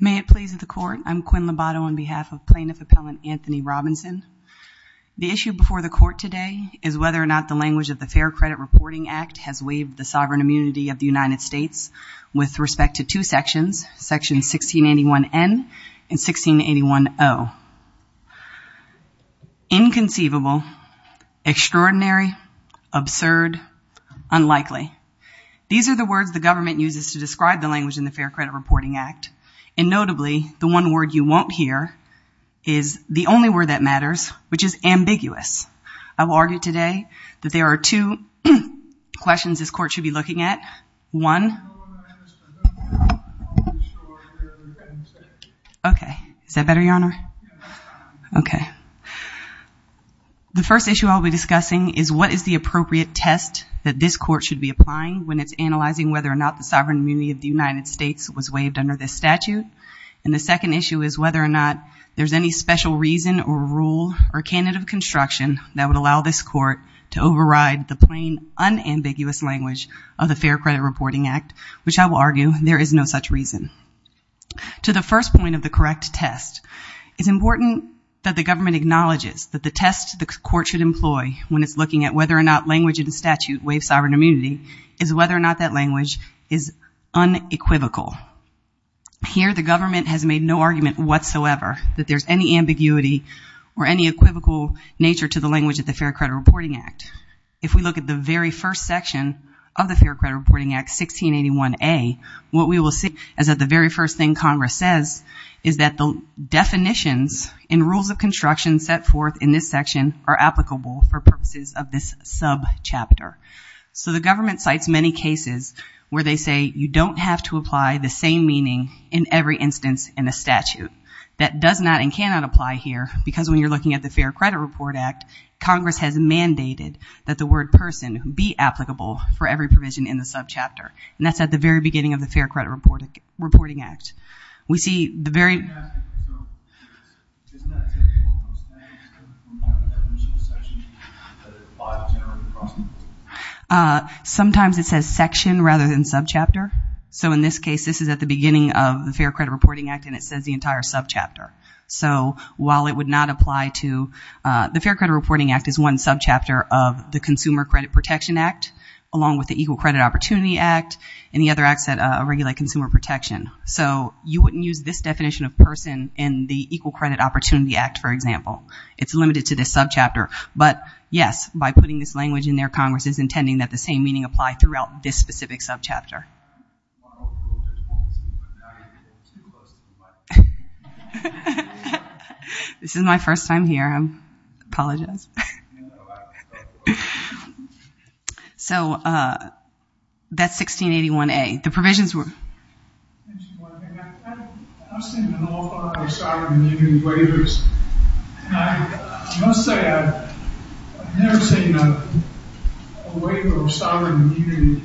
May it please the court, I'm Quinn Lobato on behalf of Plaintiff Appellant Anthony Robinson. The issue before the court today is whether or not the language of the Fair Credit Reporting Act has waived the sovereign immunity of the United States with respect to two sections, section 1681N and 1681O. Inconceivable, extraordinary, absurd, unlikely. These are the words the government uses to describe the language in the Fair Credit Reporting Act and notably the one word you won't hear is the only word that matters which is ambiguous. I will argue today that there are two questions this court should be looking at. The first issue I'll be discussing is what is the appropriate test that this court should be applying when it's analyzing whether or not the sovereign immunity of the United States was waived under this statute and the second issue is whether or not there's any special reason or rule or this court to override the plain unambiguous language of the Fair Credit Reporting Act which I will argue there is no such reason. To the first point of the correct test, it's important that the government acknowledges that the test the court should employ when it's looking at whether or not language in the statute waives sovereign immunity is whether or not that language is unequivocal. Here the government has made no argument whatsoever that there's any ambiguity or any equivocal nature to the language of the Fair Credit Reporting Act. If we look at the very first section of the Fair Credit Reporting Act 1681A, what we will see is that the very first thing Congress says is that the definitions and rules of construction set forth in this section are applicable for purposes of this subchapter. So the government cites many cases where they say you don't have to apply the same meaning in every instance in the statute. That does not and cannot apply here because when you're looking at the Fair Credit Report Act, Congress has mandated that the word person be applicable for every provision in the subchapter. And that's at the very beginning of the Fair Credit Reporting Act. We see the very... I'm just asking, so isn't that typical of those things that we have in that original section that apply generally across the board? Sometimes it says section rather than subchapter. So in this case, this is at the beginning of the Fair Credit Reporting Act and it says the entire subchapter. So while it would not apply to... The Fair Credit Reporting Act is one subchapter of the Consumer Credit Protection Act along with the Equal Credit Opportunity Act and the other acts that regulate consumer protection. So you wouldn't use this definition of person in the Equal Credit Opportunity Act, for example. It's limited to this subchapter. But yes, by putting this language in there, Congress is intending that the same meaning apply throughout this specific subchapter. This is my first time here. I apologize. So that's 1681A. The provisions were... I've seen an awful lot of sovereign immunity waivers. I must say I've never seen a waiver of sovereign immunity,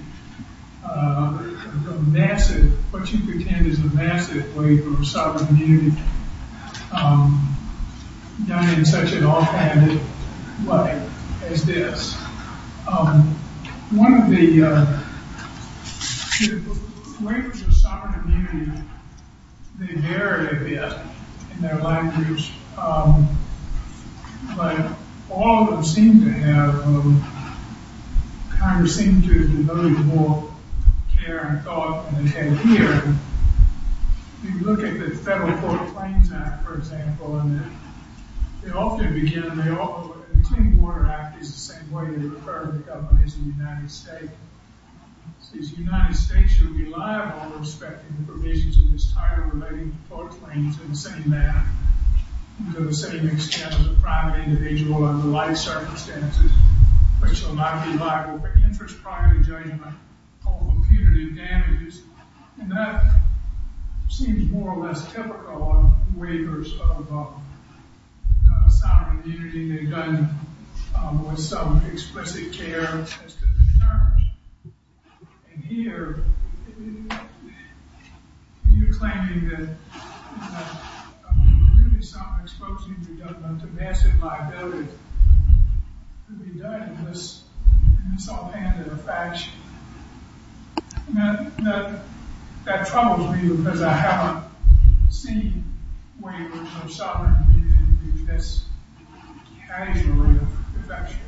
what you pretend is a massive waiver of sovereign immunity done in such an offhanded way as this. One of the... Waivers of sovereign immunity, they vary a But all of them seem to have... Congress seems to have been really more care and thought in the head here. If you look at the Federal Court Claims Act, for example, and they often begin... The Clean Water Act is the same way they refer to the government as the United States. It says the United States should rely on or respect the provisions of this title relating to public claims in the same manner, to the same extent as a private individual under life circumstances, which will not be liable for interest, property, judgment, or impunity damages. And that seems more or less typical on waivers of sovereign immunity than they've done with some explicit care as to the terms. And here, you're claiming that really sovereign expulsion of the government is a massive liability to be done in this offhanded fashion. That troubles me because I haven't seen waivers of sovereign immunity be this casually effectual.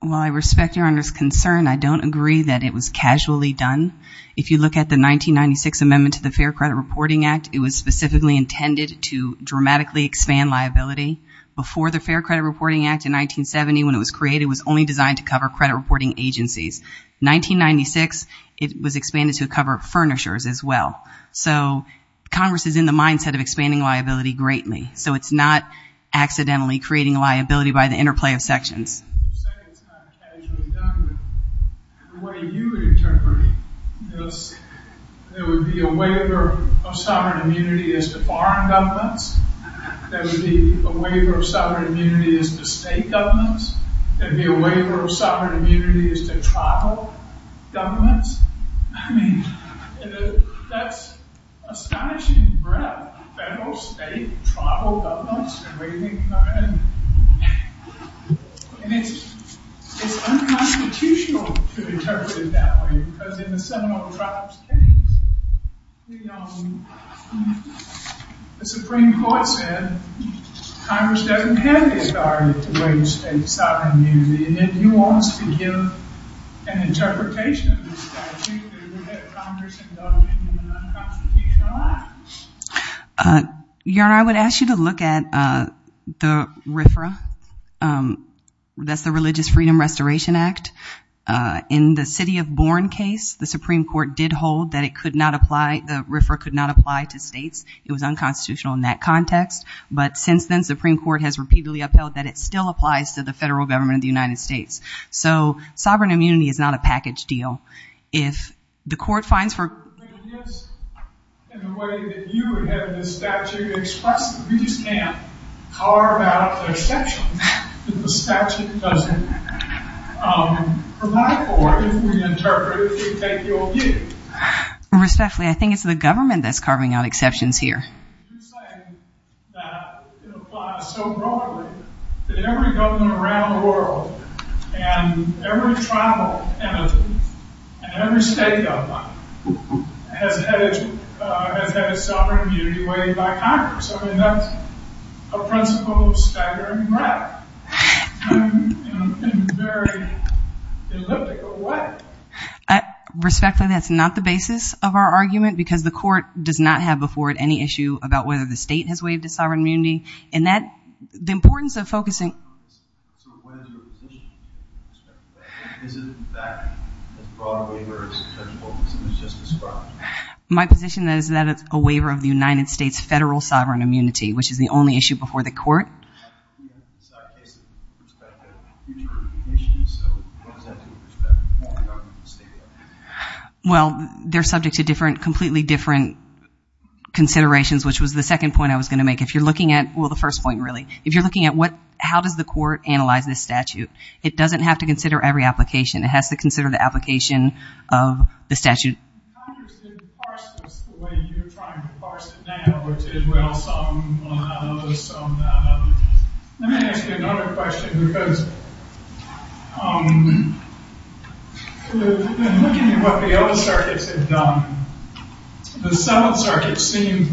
Well, I respect Your Honor's concern. I don't agree that it was casually done. If you look at the 1996 Amendment to the Fair Credit Reporting Act, it was specifically intended to dramatically expand liability. Before the Fair Credit Reporting Act in 1970, when it was created, it was only designed to cover credit reporting agencies. 1996, it was expanded to cover furnishers as well. So Congress is in the mindset of expanding liability greatly. So it's not accidentally creating liability by the interplay of sections. You say it's not casually done, but the way you would interpret it, there would be a waiver of sovereign immunity as to foreign governments. There would be a waiver of sovereign immunity as to state governments. There would be a waiver of sovereign immunity as to tribal governments. I mean, that's astonishing breadth. Federal, state, tribal governments. And it's unconstitutional to interpret it that way because in the Seminole Tribes case, the Supreme Court said Congress doesn't have the authority to waive state sovereign immunity and then he wants to give an interpretation of the statute that would get Congress indulging in an unconstitutional act. Your Honor, I would ask you to look at the RFRA. That's the Religious Freedom Restoration Act. In the City of Bourne case, the Supreme Court did hold that it could not apply, the RFRA could not apply to states. It was unconstitutional in that context. But since then, Supreme Court has repeatedly upheld that it still applies to the federal government of the United States. So, sovereign immunity is not a package deal. If the court finds for... In the way that you have this statute expressed, we just can't carve out exceptions that the statute doesn't provide for if we interpret it, if we take your view. Respectfully, I think it's the government that's carving out exceptions here. You're saying that it applies so broadly that every government around the world and every tribal entity and every state government has had its sovereign immunity waived by Congress. I mean, that's a principle of staggering breath in a very elliptical way. Respectfully, that's not the basis of our argument because the court does not have before it any issue about whether the state has waived its sovereign immunity. And the importance of focusing... So, what is your position with respect to that? Is it in fact as broad a waiver as Judge Wilkinson has just described? My position is that it's a waiver of the United States' federal sovereign immunity, which is the only issue before the court. We have to decide based on the perspective of the future of the nation, so what does that do with respect to all the arguments the state has? Well, they're subject to completely different considerations, which was the second point I was going to make. If you're looking at... Well, the first point, really. If you're looking at how does the court analyze this statute, it doesn't have to consider every application. It has to consider the application of the statute. Congress didn't parse this the way you're trying to parse it now, which is, well, some of the things that the courts have done, the civil circuit seemed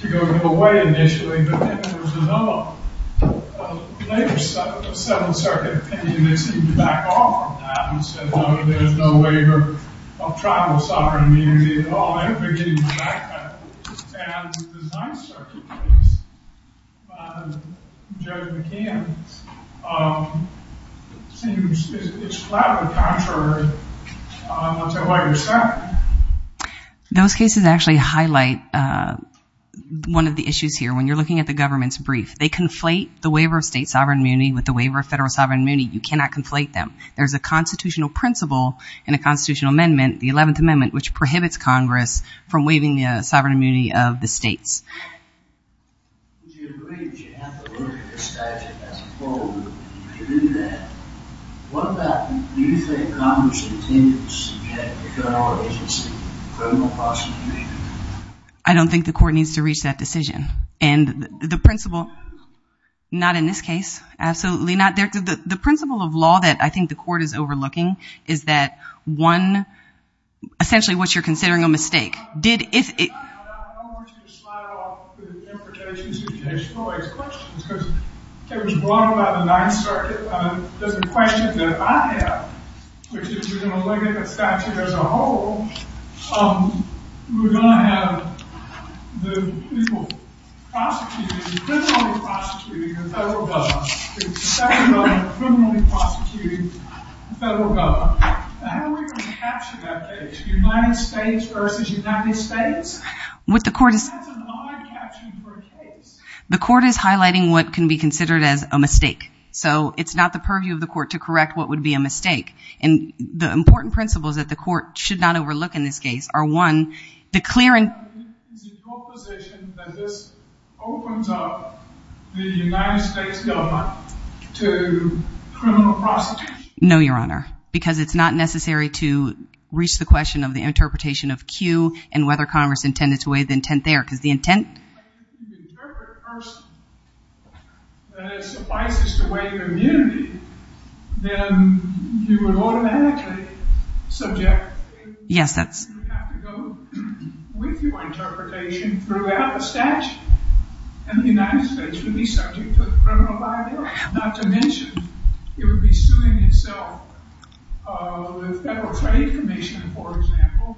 to go away initially, but then there was another later civil circuit opinion that seemed to back off from that and said, no, there's no waiver of tribal sovereign immunity at all. Everybody's getting back at it. And the design circuit case by Judge McCann seems... It's flat on the contrary to what you're saying. Those cases actually highlight one of the issues here. When you're looking at the government's brief, they conflate the waiver of state sovereign immunity with the waiver of federal sovereign immunity. You cannot conflate them. There's a constitutional principle in a constitutional amendment, the 11th Amendment, which prohibits Congress from waiving the sovereign immunity of the states. I don't think the court needs to reach that decision. And the principle... Not in this case. Absolutely not. The principle of law that I think the court is overlooking is that, one, essentially what you're considering a mistake. United States versus United States? What the court is... That's an odd caption for a case. The court is highlighting what can be considered as a mistake. So it's not the purview of the court to correct what would be a mistake. And the important principles that the court should not overlook in this case are, one, the clear and... Is it your position that this opens up the United States government to criminal prosecution? No, Your Honor. Because it's not necessary to reach the question of the interpretation of Q and whether Congress intended to waive the intent there. Because the intent... Yes, that's... The Federal Trade Commission, for example,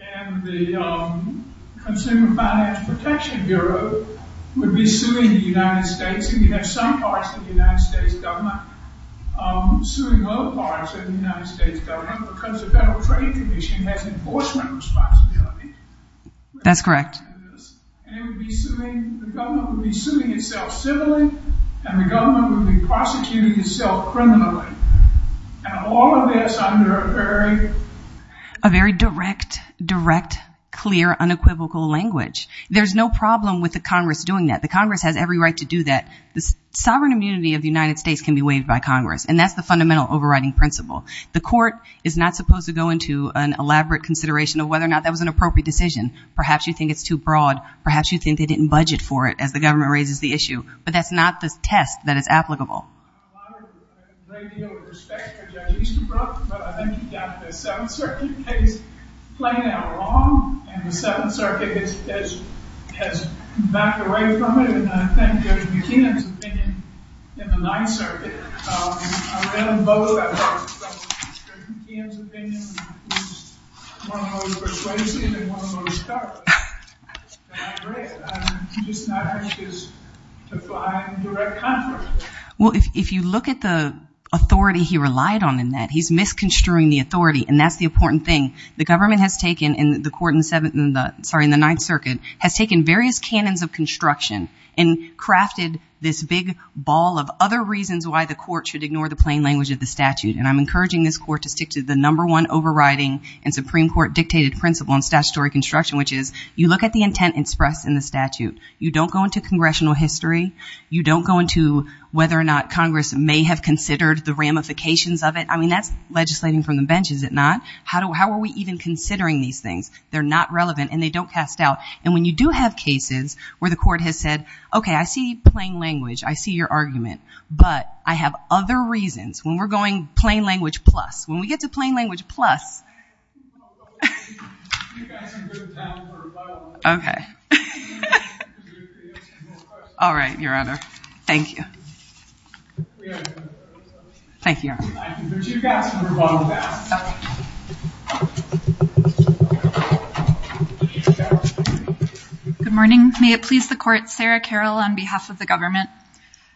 and the Consumer Finance Protection Bureau would be suing the United States. And you have some parts of the United States government suing other parts of the United States government because the Federal Trade Commission has enforcement responsibility. That's correct. And it would be suing... The government would be suing itself civilly, and the government would be prosecuting itself criminally. And all of this under a very... A very direct, direct, clear, unequivocal language. There's no problem with the Congress doing that. The Congress has every right to do that. The sovereign immunity of the United States can be waived by Congress. And that's the fundamental overriding principle. The court is not supposed to go into an elaborate consideration of whether or not that was an appropriate decision. Perhaps you think it's too broad. Perhaps you think they didn't budget for it as the government raises the issue. But that's not the test that is applicable. I have a great deal of respect for Judge Easterbrook. But I think he got the Seventh Circuit case plain and wrong. And the Seventh Circuit has backed away from it. And I think Judge McKeon's opinion in the Ninth Circuit... I read them both. I think Judge McKeon's opinion was one of the most persuasive and one of the most thorough. And I agree. I'm just not anxious to fly into direct conflict. Well, if you look at the authority he relied on in that, he's misconstruing the authority. And that's the important thing. The government has taken, and the court in the Ninth Circuit, has taken various canons of construction and crafted this big ball of other reasons why the court should ignore the plain language of the statute. And I'm encouraging this court to stick to the number one overriding and Supreme Court-dictated principle on statutory construction, which is you look at the intent expressed in the statute. You don't go into congressional history. You don't go into whether or not Congress may have considered the ramifications of it. I mean, that's legislating from the bench, is it not? How are we even considering these things? They're not relevant, and they don't cast doubt. And when you do have cases where the court has said, okay, I see plain language. I see your argument. But I have other reasons. When we're going plain language plus, when we get to plain language plus... Okay. All right, Your Honor. Thank you. Thank you. Good morning. May it please the court. Sarah Carroll on behalf of the government.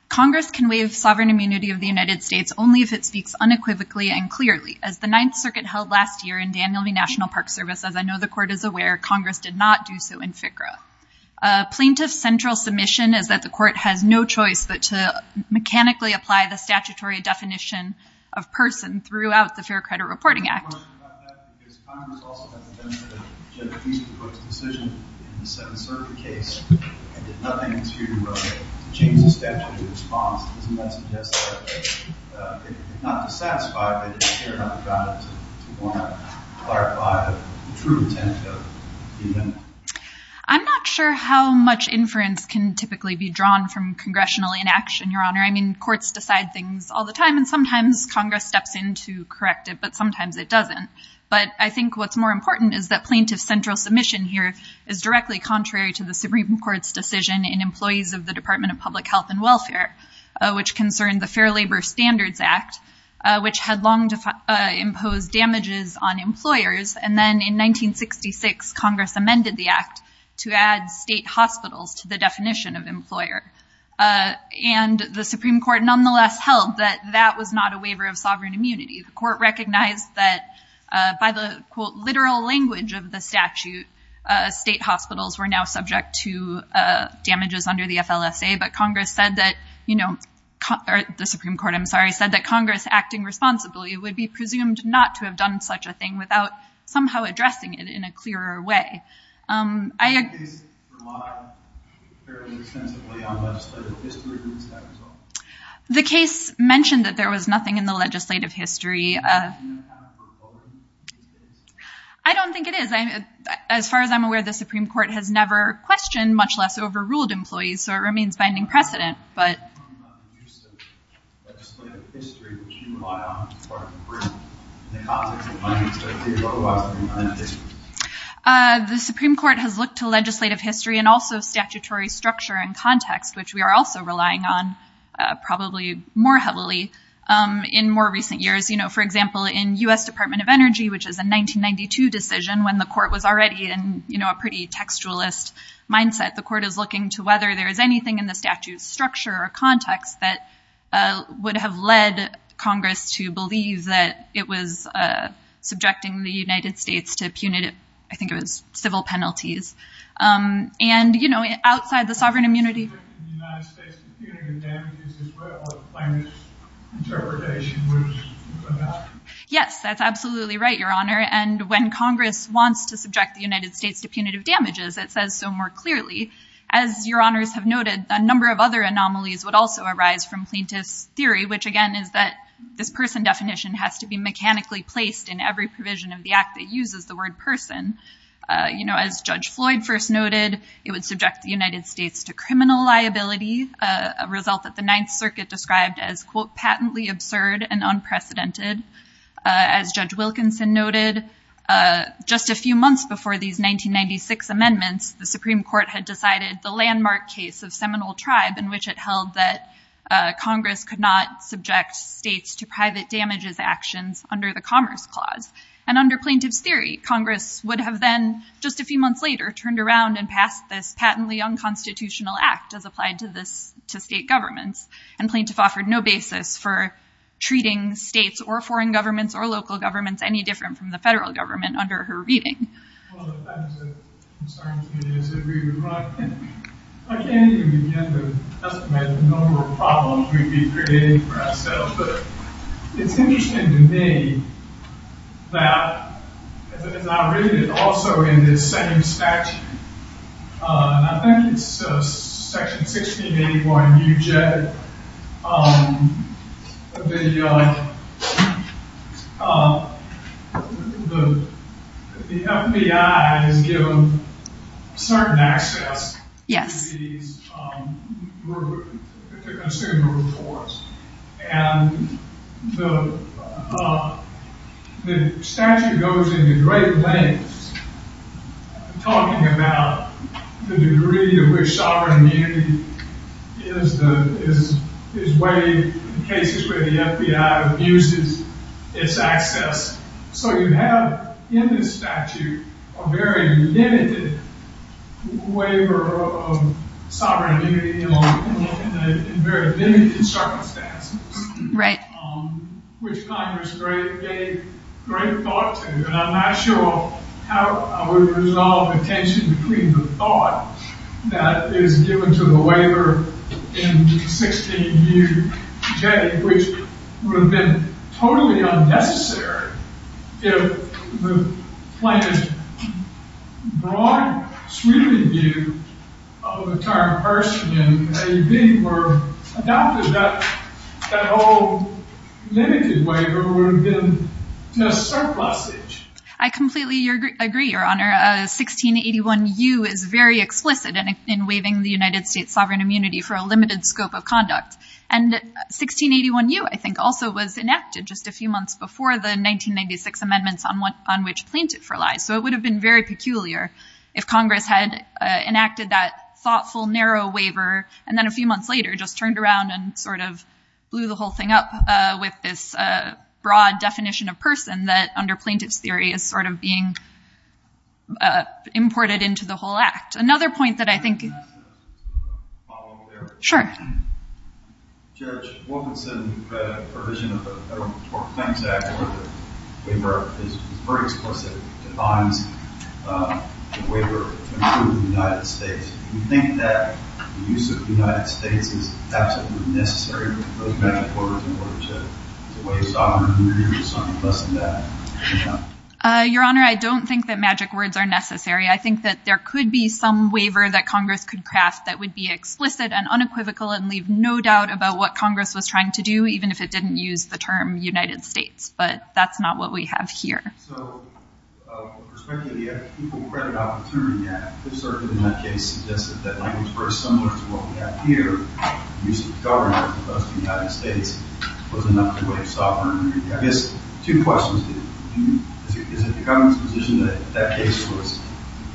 Congress can waive sovereign immunity of the United States only if it speaks unequivocally and clearly. As the Ninth Circuit held last year in Daniel v. National Park Service, as I know the court is aware, Congress did not do so in FCRA. Plaintiff's central submission is that the court has no choice but to mechanically apply the statutory definition of person throughout the Fair Credit Reporting Act. I have a question about that. Because Congress also has a benefit of a judicially proposed decision in the Seventh Circuit case and did nothing to change the statutory response. Doesn't that suggest that, not to satisfy, but to clarify the true intent of the amendment? I'm not sure how much inference can typically be drawn from congressional inaction, Your Honor. I mean, courts decide things all the time, and sometimes Congress steps in to correct it, but sometimes it doesn't. But I think what's more important is that plaintiff's central submission here is directly contrary to the Supreme Court's decision in employees of the Department of Public Health and Welfare, which concerned the Fair Labor Standards Act, which had long imposed damages on employers. And then in 1966, Congress amended the act to add state hospitals to the definition of employer. And the Supreme Court nonetheless held that that was not a waiver of sovereign immunity. The court recognized that by the, quote, literal language of the statute, state hospitals were now subject to damages under the FLSA. But Congress said that, you know, the Supreme Court, I'm sorry, said that Congress acting responsibly would be presumed not to have done such a thing without somehow addressing it in a clearer way. The case relied fairly extensively on legislative history to decide the result. The case mentioned that there was nothing in the legislative history. I don't think it is. As far as I'm aware, the Supreme Court has never questioned, much less overruled, employees, so it remains binding precedent. The Supreme Court has looked to legislative history and also statutory structure and context, which we are also relying on probably more heavily in more recent years. You know, for example, in U.S. Department of Energy, which is a 1992 decision when the court was already in, you know, a pretty textualist mindset, the court is looking to whether there is anything in the statute's structure or context that would have led Congress to believe that it was subjecting the United States to punitive, I think it was civil penalties. And, you know, outside the sovereign immunity. Yes, that's absolutely right, Your Honor. And when Congress wants to subject the United States to punitive damages, it says so more clearly. As Your Honors have noted, a number of other anomalies would also arise from plaintiff's theory, which again is that this person definition has to be mechanically placed in every provision of the act that uses the word person. You know, as Judge Floyd first noted, it would subject the United States to criminal liability, a result that the Ninth Circuit described as, quote, patently absurd and unprecedented. As Judge Wilkinson noted, just a few months before these 1996 amendments, the Supreme Court had decided the landmark case of Seminole Tribe in which it held that Congress could not subject states to private damages actions under the Commerce Clause. And under plaintiff's theory, Congress would have then, just a few months later, turned around and passed this patently unconstitutional act as applied to state governments. And plaintiff offered no basis for treating states or foreign governments or local governments any different from the federal government under her reading. As I read it also in this second statute, and I think it's section 1681 UJ, the FBI has given certain access to these consumer reports. And the statute goes into great lengths talking about the degree to which sovereign immunity is waived in cases where the FBI abuses its access. So you have in this statute a very limited waiver of sovereign immunity in very limited circumstances, which Congress gave great thought to. And I'm not sure how I would resolve the tension between the thought that is given to the waiver in 16UJ, which would have been totally unnecessary if the plaintiff's broad sweeping view of the term person in AB were adopted. That whole limited waiver would have been just surplusage. I completely agree, Your Honor. 1681U is very explicit in waiving the United States sovereign immunity for a limited scope of conduct. And 1681U, I think, also was enacted just a few months before the 1996 amendments on which plaintiff relies. So it would have been very peculiar if Congress had enacted that thoughtful, narrow waiver and then a few months later just turned around and sort of blew the whole thing up with this imported into the whole act. Another point that I think Can I ask a follow-up there? Sure. Judge, Wilkinson provision of the Federal Claims Act, where the waiver is very explicit, defines the waiver to include the United States. Do you think that the use of the United States is absolutely necessary for those magic orders in order to waive sovereign immunity or something less than that? Your Honor, I don't think that magic words are necessary. I think that there could be some waiver that Congress could craft that would be explicit and unequivocal and leave no doubt about what Congress was trying to do, even if it didn't use the term United States. But that's not what we have here. So, with respect to the Equal Credit Opportunity Act, this argument in that case suggested that language was very similar to what we have here. The use of the government of the United States was enough to waive sovereign immunity. I guess two questions. Is it the government's position that that case was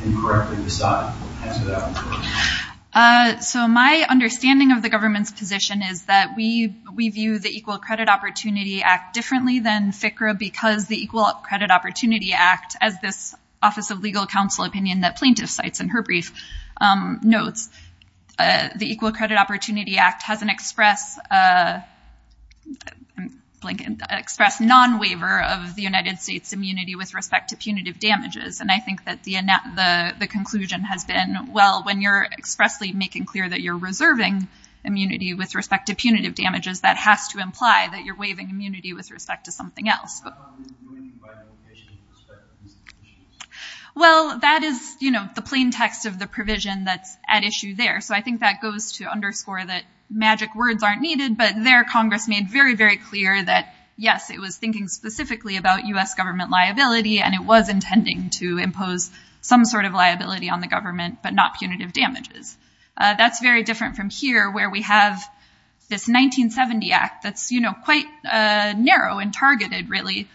incorrectly decided? Answer that one first. So my understanding of the government's position is that we view the Equal Credit Opportunity Act differently than FCRA because the Equal Credit Opportunity Act, as this Office of Legal Counsel opinion that plaintiff cites in her brief notes, the Equal Credit Opportunity Act has an express non-waiver of the United States' immunity with respect to punitive damages. And I think that the conclusion has been, well, when you're expressly making clear that you're reserving immunity with respect to punitive damages, that has to imply that you're waiving immunity with respect to something else. Well, that is the plain text of the provision that's at issue there. So I think that goes to underscore that magic words aren't needed. But there Congress made very, very clear that, yes, it was thinking specifically about U.S. government liability and it was intending to impose some sort of liability on the government but not punitive damages. That's very different from here where we have this 1970 Act that's quite narrow and targeted, really,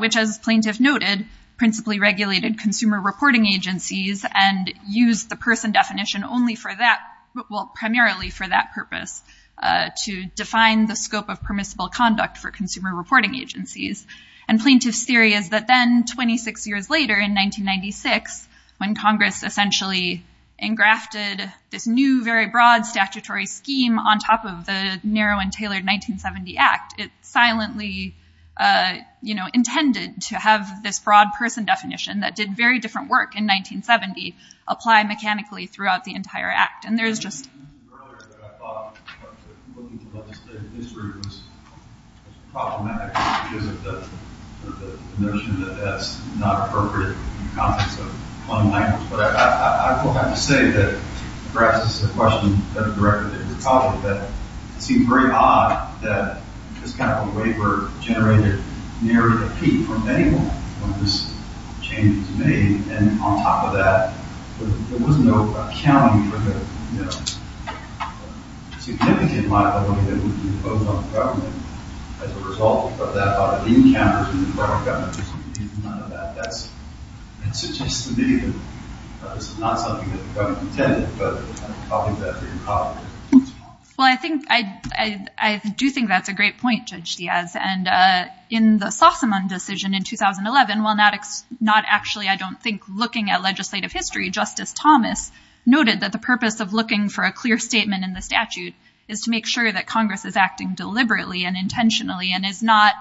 which, as plaintiff noted, principally regulated consumer reporting agencies and used the person definition only for that, well, primarily for that purpose to define the scope of permissible conduct for consumer reporting agencies. And plaintiff's theory is that then, 26 years later, in 1996, when Congress essentially engrafted this new, very broad statutory scheme on top of the narrow and tailored 1970 Act, it silently intended to have this broad person definition that did very different work in 1970 apply mechanically throughout the entire Act. And there's just... I was thinking earlier that I thought looking at the legislative history was problematic because of the notion that that's not appropriate in the context of punitive damages. But I will have to say that perhaps this is a question that the Director did talk about that it seems very odd that this kind of a waiver generated nearly a peak from anyone when this change was made. And on top of that, there was no accounting for the significant liability that would be imposed on the government as a result of that. A lot of the encounters in the Department of Government just revealed none of that. That's... It suggests to me that this is not something that the government intended, but I think that's a problem. Well, I think... I do think that's a great point, Judge Diaz. And in the Sossaman decision in 2011, while not actually, I don't think, looking at legislative history, Justice Thomas noted that the purpose of looking for a clear statement in the statute is to make sure that Congress is acting deliberately and intentionally and is not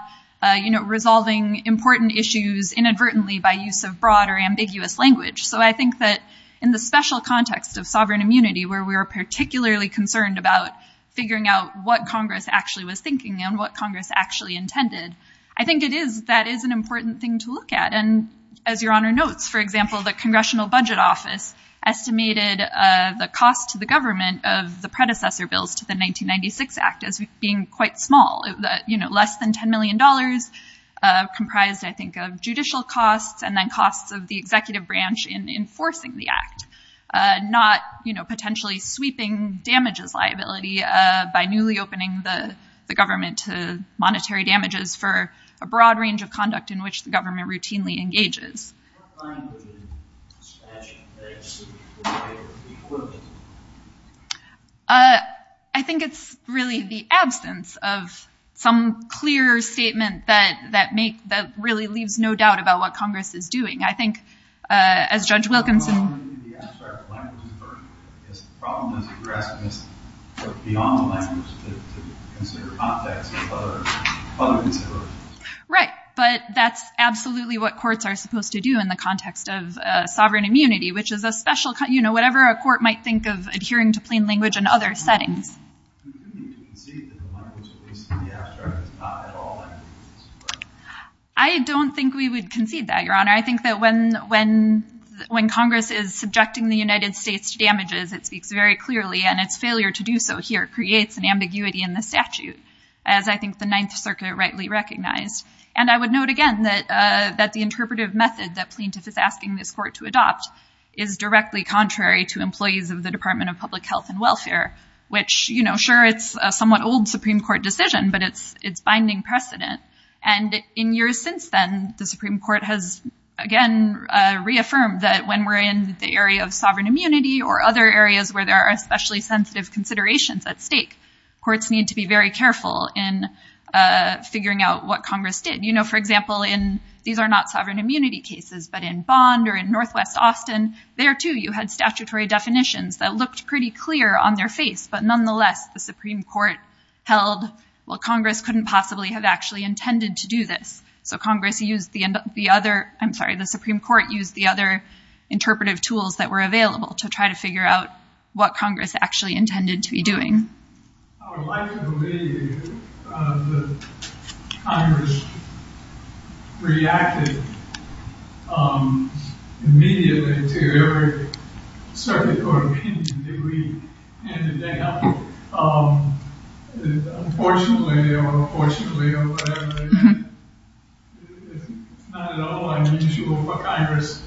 resolving important issues inadvertently by use of broad or ambiguous language. So I think that in the special context of sovereign immunity, where we were particularly concerned about figuring out what Congress actually was thinking and what Congress actually intended, I think it is... That is an important thing to look at. And as Your Honor notes, for example, the Congressional Budget Office estimated the cost to the government of the predecessor bills to the 1996 Act as being quite small, less than $10 million, comprised, I think, of judicial costs and then costs of the executive damages liability by newly opening the government to monetary damages for a broad range of conduct in which the government routinely engages. I think it's really the absence of some clear statement that really leaves no doubt about what Congress is doing. I think, as Judge Wilkinson... ...beyond the language to consider context of other considerations. Right. But that's absolutely what courts are supposed to do in the context of sovereign immunity, which is a special... You know, whatever a court might think of adhering to plain language in other settings. I don't think we would concede that, Your Honor. I think that when Congress is subjecting the United States to damages, it speaks very clearly, and its failure to do so here creates an ambiguity in the statute, as I think the Ninth Circuit rightly recognized. And I would note again that the interpretive method that plaintiff is asking this court to adopt is directly contrary to employees of the Department of Public Health and Welfare, which, you know, sure, it's a somewhat old Supreme Court decision, but it's binding precedent. And in years since then, the Supreme Court has, again, reaffirmed that when we're in the area of potentially sensitive considerations at stake, courts need to be very careful in figuring out what Congress did. You know, for example, in... These are not sovereign immunity cases, but in Bond or in Northwest Austin, there, too, you had statutory definitions that looked pretty clear on their face. But nonetheless, the Supreme Court held, well, Congress couldn't possibly have actually intended to do this. So Congress used the other... I'm sorry, the Supreme Court used the other interpretive tools that were available to try to figure out what Congress actually intended to be doing. I would like to believe that Congress reacted immediately to every circuit court opinion that we handed down. Unfortunately or fortunately or whatever, it's not at all unusual for Congress,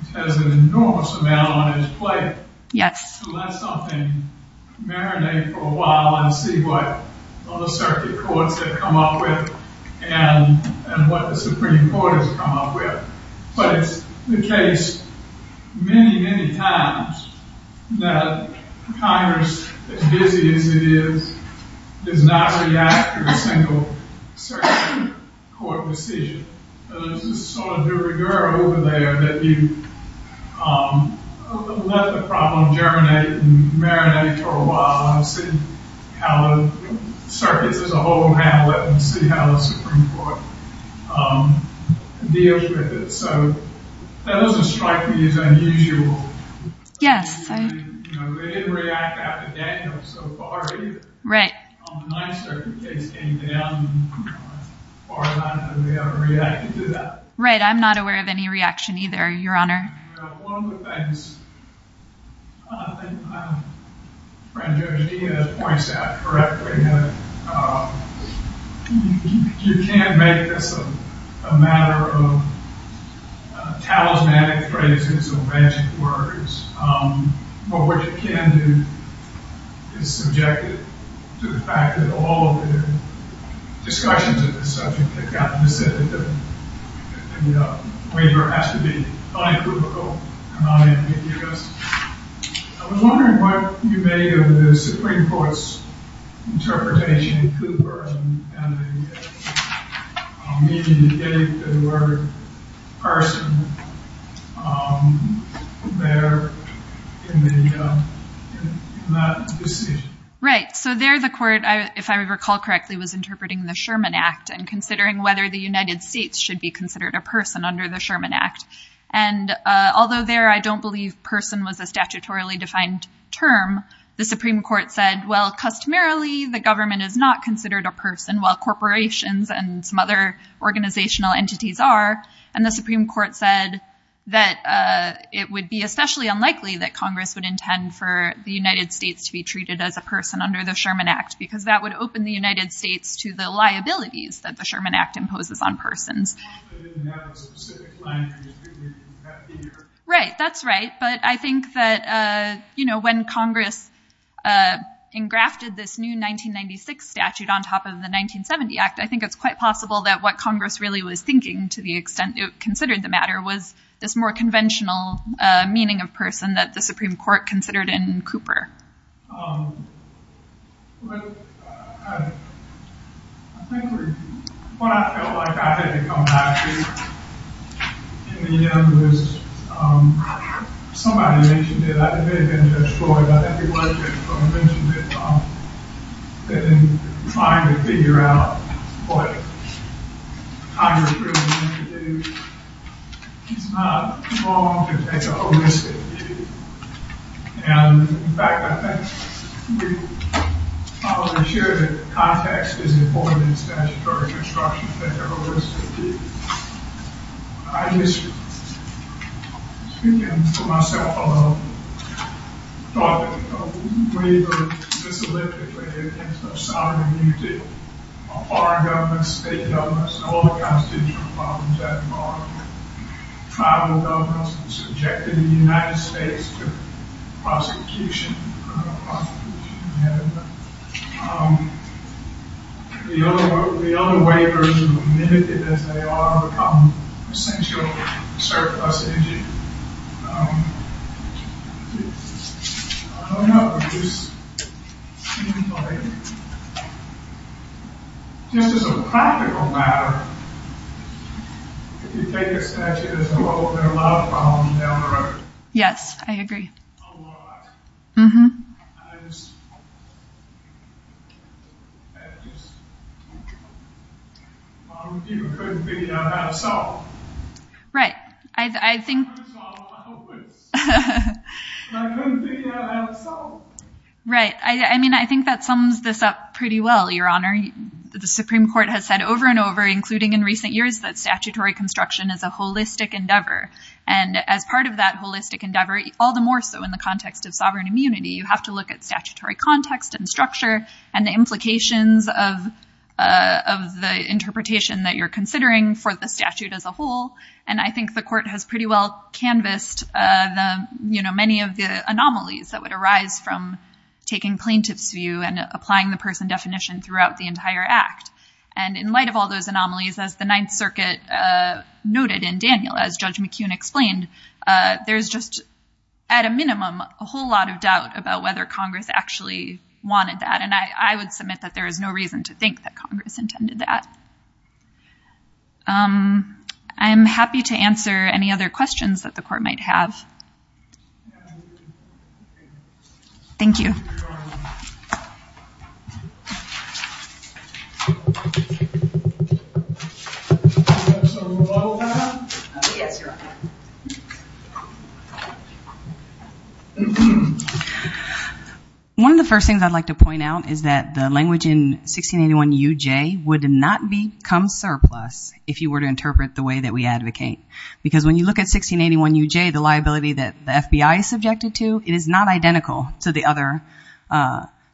which has an enormous amount on its plate, to let something marinate for a while and see what other circuit courts have come up with and what the Supreme Court has come up with. But it's the case many, many times that Congress, as busy as it is, does not react to a single circuit court decision. But there's this sort of de rigueur over there that you let the problem germinate and marinate for a while and see how the circuits as a whole handle it and see how the Supreme Court deals with it. So that doesn't strike me as unusual. They didn't react after Daniel so far either. On the 9th circuit case came down. Far as I know, they haven't reacted to that. Right. I'm not aware of any reaction either, Your Honor. One of the things I think my friend, Judge Diaz, points out correctly, that you can't make this a matter of talismanic phrases or magic words. But what you can do is subject it to the fact that all of the discussions of this subject have gotten the sentiment that the waiver has to be bi-clerical and not ambiguous. I was wondering what you made of the Supreme Court's interpretation of Cooper and the meaning of the word person there in that decision. Right. So there the court, if I recall correctly, was interpreting the Sherman Act and considering whether the United States should be considered a person under the Sherman Act. And although there I don't believe person was a statutorily defined term, the Supreme Court said, well, customarily the government is not considered a person while corporations and some other organizational entities are. And the Supreme Court said that it would be especially unlikely that Congress would intend for the United States to be treated as a person under the Sherman Act because that would open the United States to the liabilities that the Sherman Act imposes on persons. Right. That's right. But I think that, you know, when Congress engrafted this new 1996 statute on top of the 1970 Act, I think it's quite possible that what Congress really was thinking to the extent it considered the matter was this more conventional meaning of person that the Supreme Court considered in Cooper. But I think what I felt like I had to come back to in the end was somebody mentioned it, I think it was Judge Floyd, I think it was Judge Floyd who mentioned it, that in trying to figure out what Congress really wanted to do, it's not wrong to take a holistic view. And, in fact, I think we probably share that context is important in statutory construction that there always should be a high history. Speaking for myself alone, I thought that we wavered miserably when it came to the sovereign immunity of foreign governments, state governments, and all the constitutional problems that are tribal governments subjected in the United States to prosecution. The other wavers, limited as they are, become essential surplus energy. I don't know if this seems like, just as a practical matter, if you take a statute as a whole, there are a lot of problems down the road. Yes, I agree. A lot. A lot of people couldn't figure out how to solve. Right. I mean, I think that sums this up pretty well, Your Honor. The Supreme Court has said over and over, including in recent years, that statutory construction is a holistic endeavor. And as part of that holistic endeavor, all the more so in the context of sovereign immunity, you have to look at statutory context and structure and the implications of the interpretation that you're considering for the statute as a whole. And I think the court has pretty well canvassed the, you know, many of the anomalies that would arise from taking plaintiff's view and applying the person definition throughout the entire act. And in light of all those anomalies, as the Ninth Circuit noted in Daniel, as Judge McKeon explained, there's just, at a minimum, a whole lot of doubt about whether Congress actually wanted that. And I would submit that there is no reason to think that Congress intended that. I'm happy to answer any other questions that the court might have. Thank you. So, Rebecca? Yes, Your Honor. One of the first things I'd like to point out is that the language in 1681UJ would not become surplus if you were to interpret the way that we advocate. Because when you look at 1681UJ, the liability that the FBI is subjected to, it is not identical to the other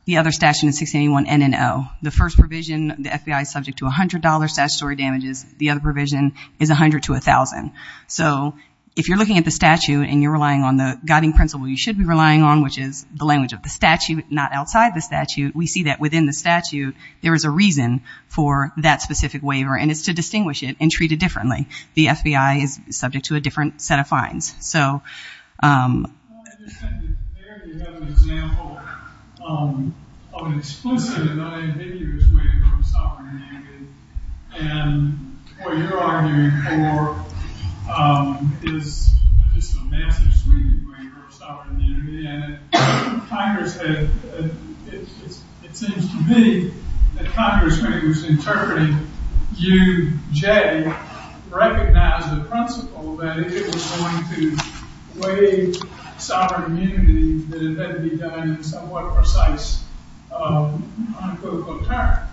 statute in 1681N and O. The first provision, the FBI is subject to $100 statutory damages. The other provision is $100 to $1,000. So if you're looking at the statute and you're relying on the guiding principle you should be relying on, which is the language of the statute, not outside the statute, we see that within the statute there is a reason for that specific waiver. And it's to distinguish it and treat it differently. The FBI is subject to a different set of fines. I just think that there you have an example of an explicit and unambiguous waiver of sovereign immunity. And what you're arguing for is just a massive waiver of sovereign immunity. And it seems to me that Congress, when it was interpreting UJ, recognized the principle that if it was going to waive sovereign immunity, that it had to be done in somewhat precise, uncritical terms.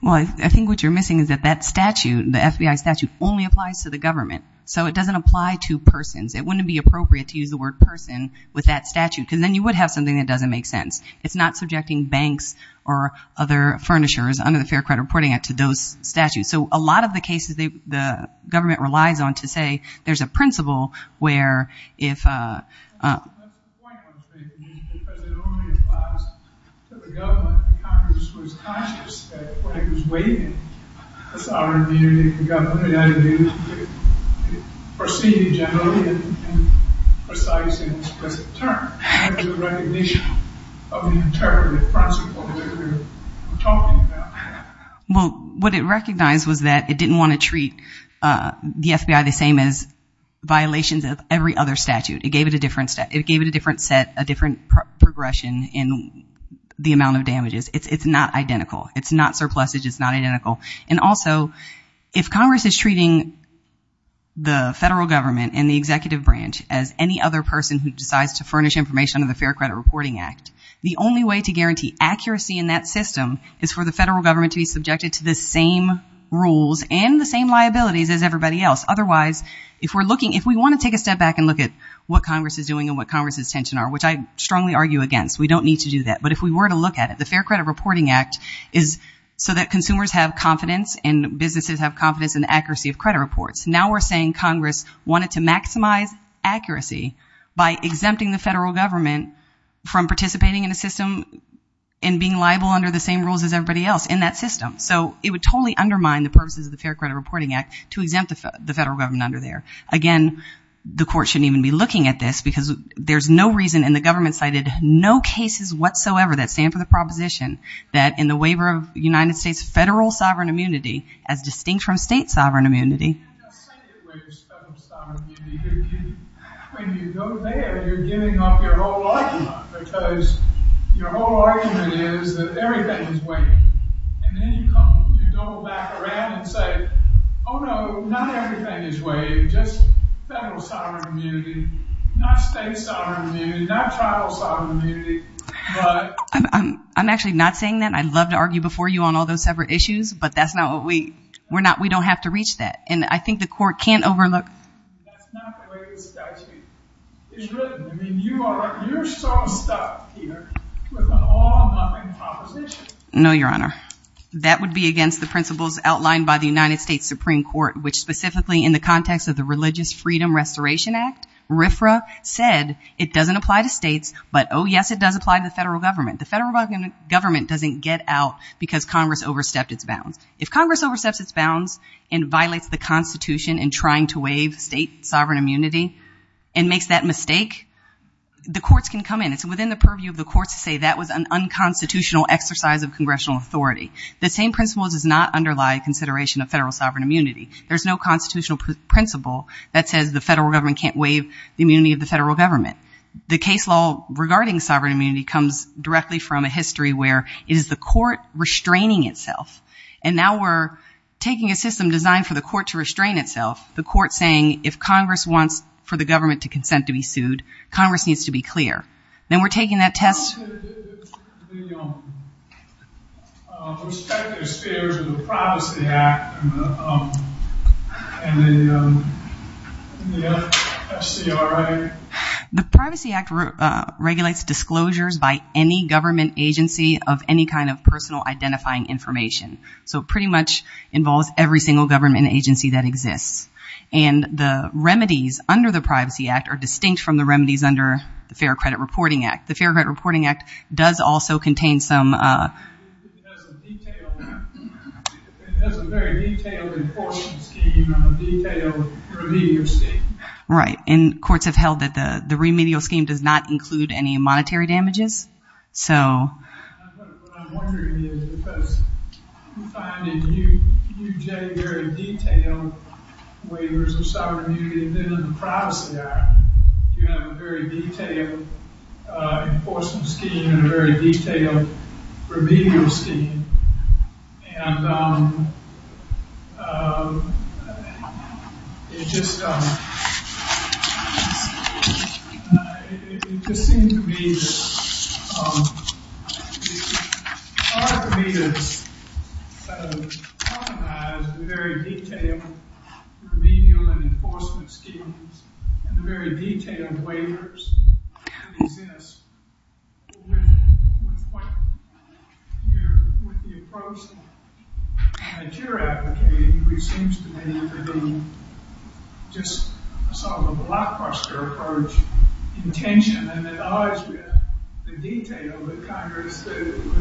Well, I think what you're missing is that that statute, the FBI statute, only applies to the government. So it doesn't apply to persons. It wouldn't be appropriate to use the word person with that statute because then you would have something that doesn't make sense. It's not subjecting banks or other furnishers under the Fair Credit Reporting Act to those statutes. So a lot of the cases the government relies on to say there's a principle where if — Congress was conscious that when it was waiving sovereign immunity in government, it had to be proceeded generally in precise and explicit terms. That was a recognition of the interpretive principle that we were talking about. Well, what it recognized was that it didn't want to treat the FBI the same as violations of every other statute. It gave it a different set, a different progression in the amount of damages. It's not identical. It's not surplus. It's just not identical. And also, if Congress is treating the federal government and the executive branch as any other person who decides to furnish information under the Fair Credit Reporting Act, the only way to guarantee accuracy in that system is for the federal government to be subjected to the same rules and the same liabilities as everybody else. Otherwise, if we want to take a step back and look at what Congress is doing and what Congress's tensions are, which I strongly argue against, we don't need to do that. But if we were to look at it, the Fair Credit Reporting Act is so that consumers have confidence and businesses have confidence in the accuracy of credit reports. Now we're saying Congress wanted to maximize accuracy by exempting the federal government from participating in a system and being liable under the same rules as everybody else in that system. So it would totally undermine the purposes of the Fair Credit Reporting Act to exempt the federal government under there. Again, the court shouldn't even be looking at this because there's no reason and the government cited no cases whatsoever that stand for the proposition that in the waiver of United States federal sovereign immunity as distinct from state sovereign immunity. When you go there, you're giving up your whole argument. Because your whole argument is that everything is waived. And then you come, you go back around and say, oh no, not everything is waived, just federal sovereign immunity, not state sovereign immunity, not tribal sovereign immunity. I'm actually not saying that. I'd love to argue before you on all those separate issues, but that's not what we, we're not, we don't have to reach that. And I think the court can't overlook. That's not the way the statute is written. I mean, you are, you're so stuck here with an all-numbing proposition. No, Your Honor. That would be against the principles outlined by the United States Supreme Court, which specifically in the context of the Religious Freedom Restoration Act, RFRA said it doesn't apply to states, but oh yes, it does apply to the federal government. The federal government doesn't get out because Congress overstepped its bounds. If Congress oversteps its bounds and violates the Constitution in trying to waive state sovereign immunity and makes that mistake, the courts can come in. It's within the purview of the courts to say that was an unconstitutional exercise of congressional authority. The same principle does not underlie consideration of federal sovereign immunity. There's no constitutional principle that says the federal government can't waive the immunity of the federal government. The case law regarding sovereign immunity comes directly from a history where it is the court restraining itself. And now we're taking a system designed for the court to restrain itself, the court saying if Congress wants for the government to consent to be sued, Congress needs to be clear. Then we're taking that test. The perspective spheres of the Privacy Act and the FCRA. The Privacy Act regulates disclosures by any government agency of any kind of personal identifying information. So it pretty much involves every single government agency that exists. And the remedies under the Privacy Act are distinct from the remedies under the Fair Credit Reporting Act. The Fair Credit Reporting Act does also contain some... Right. And courts have held that the remedial scheme does not include any monetary damages. So... What I'm wondering is because you find in UJ very detailed waivers of sovereign immunity and then in the Privacy Act you have a very detailed enforcement scheme and a very detailed remedial scheme. And it just seems to me that it's hard for me to recognize the very detailed remedial and enforcement schemes and the very detailed waivers that exist with the approach that you're advocating, which seems to me to be just sort of a blockbuster approach intention. And it odds with the detail with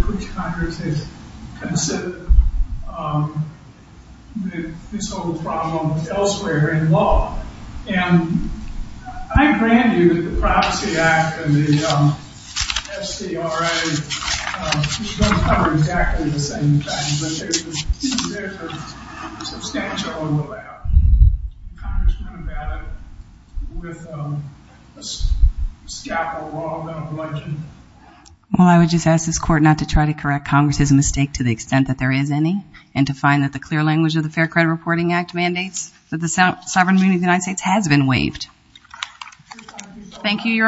which Congress has considered this whole problem elsewhere in law. And I grant you that the Privacy Act and the SCRA cover exactly the same thing, but there's a substantial overlap. Congress went about it with a scaffold wall, not a bludgeon. Well, I would just ask this court not to try to correct Congress's mistake to the extent that there is any and to find that the clear language of the Fair Immunity of the United States has been waived. Thank you, Your Honor.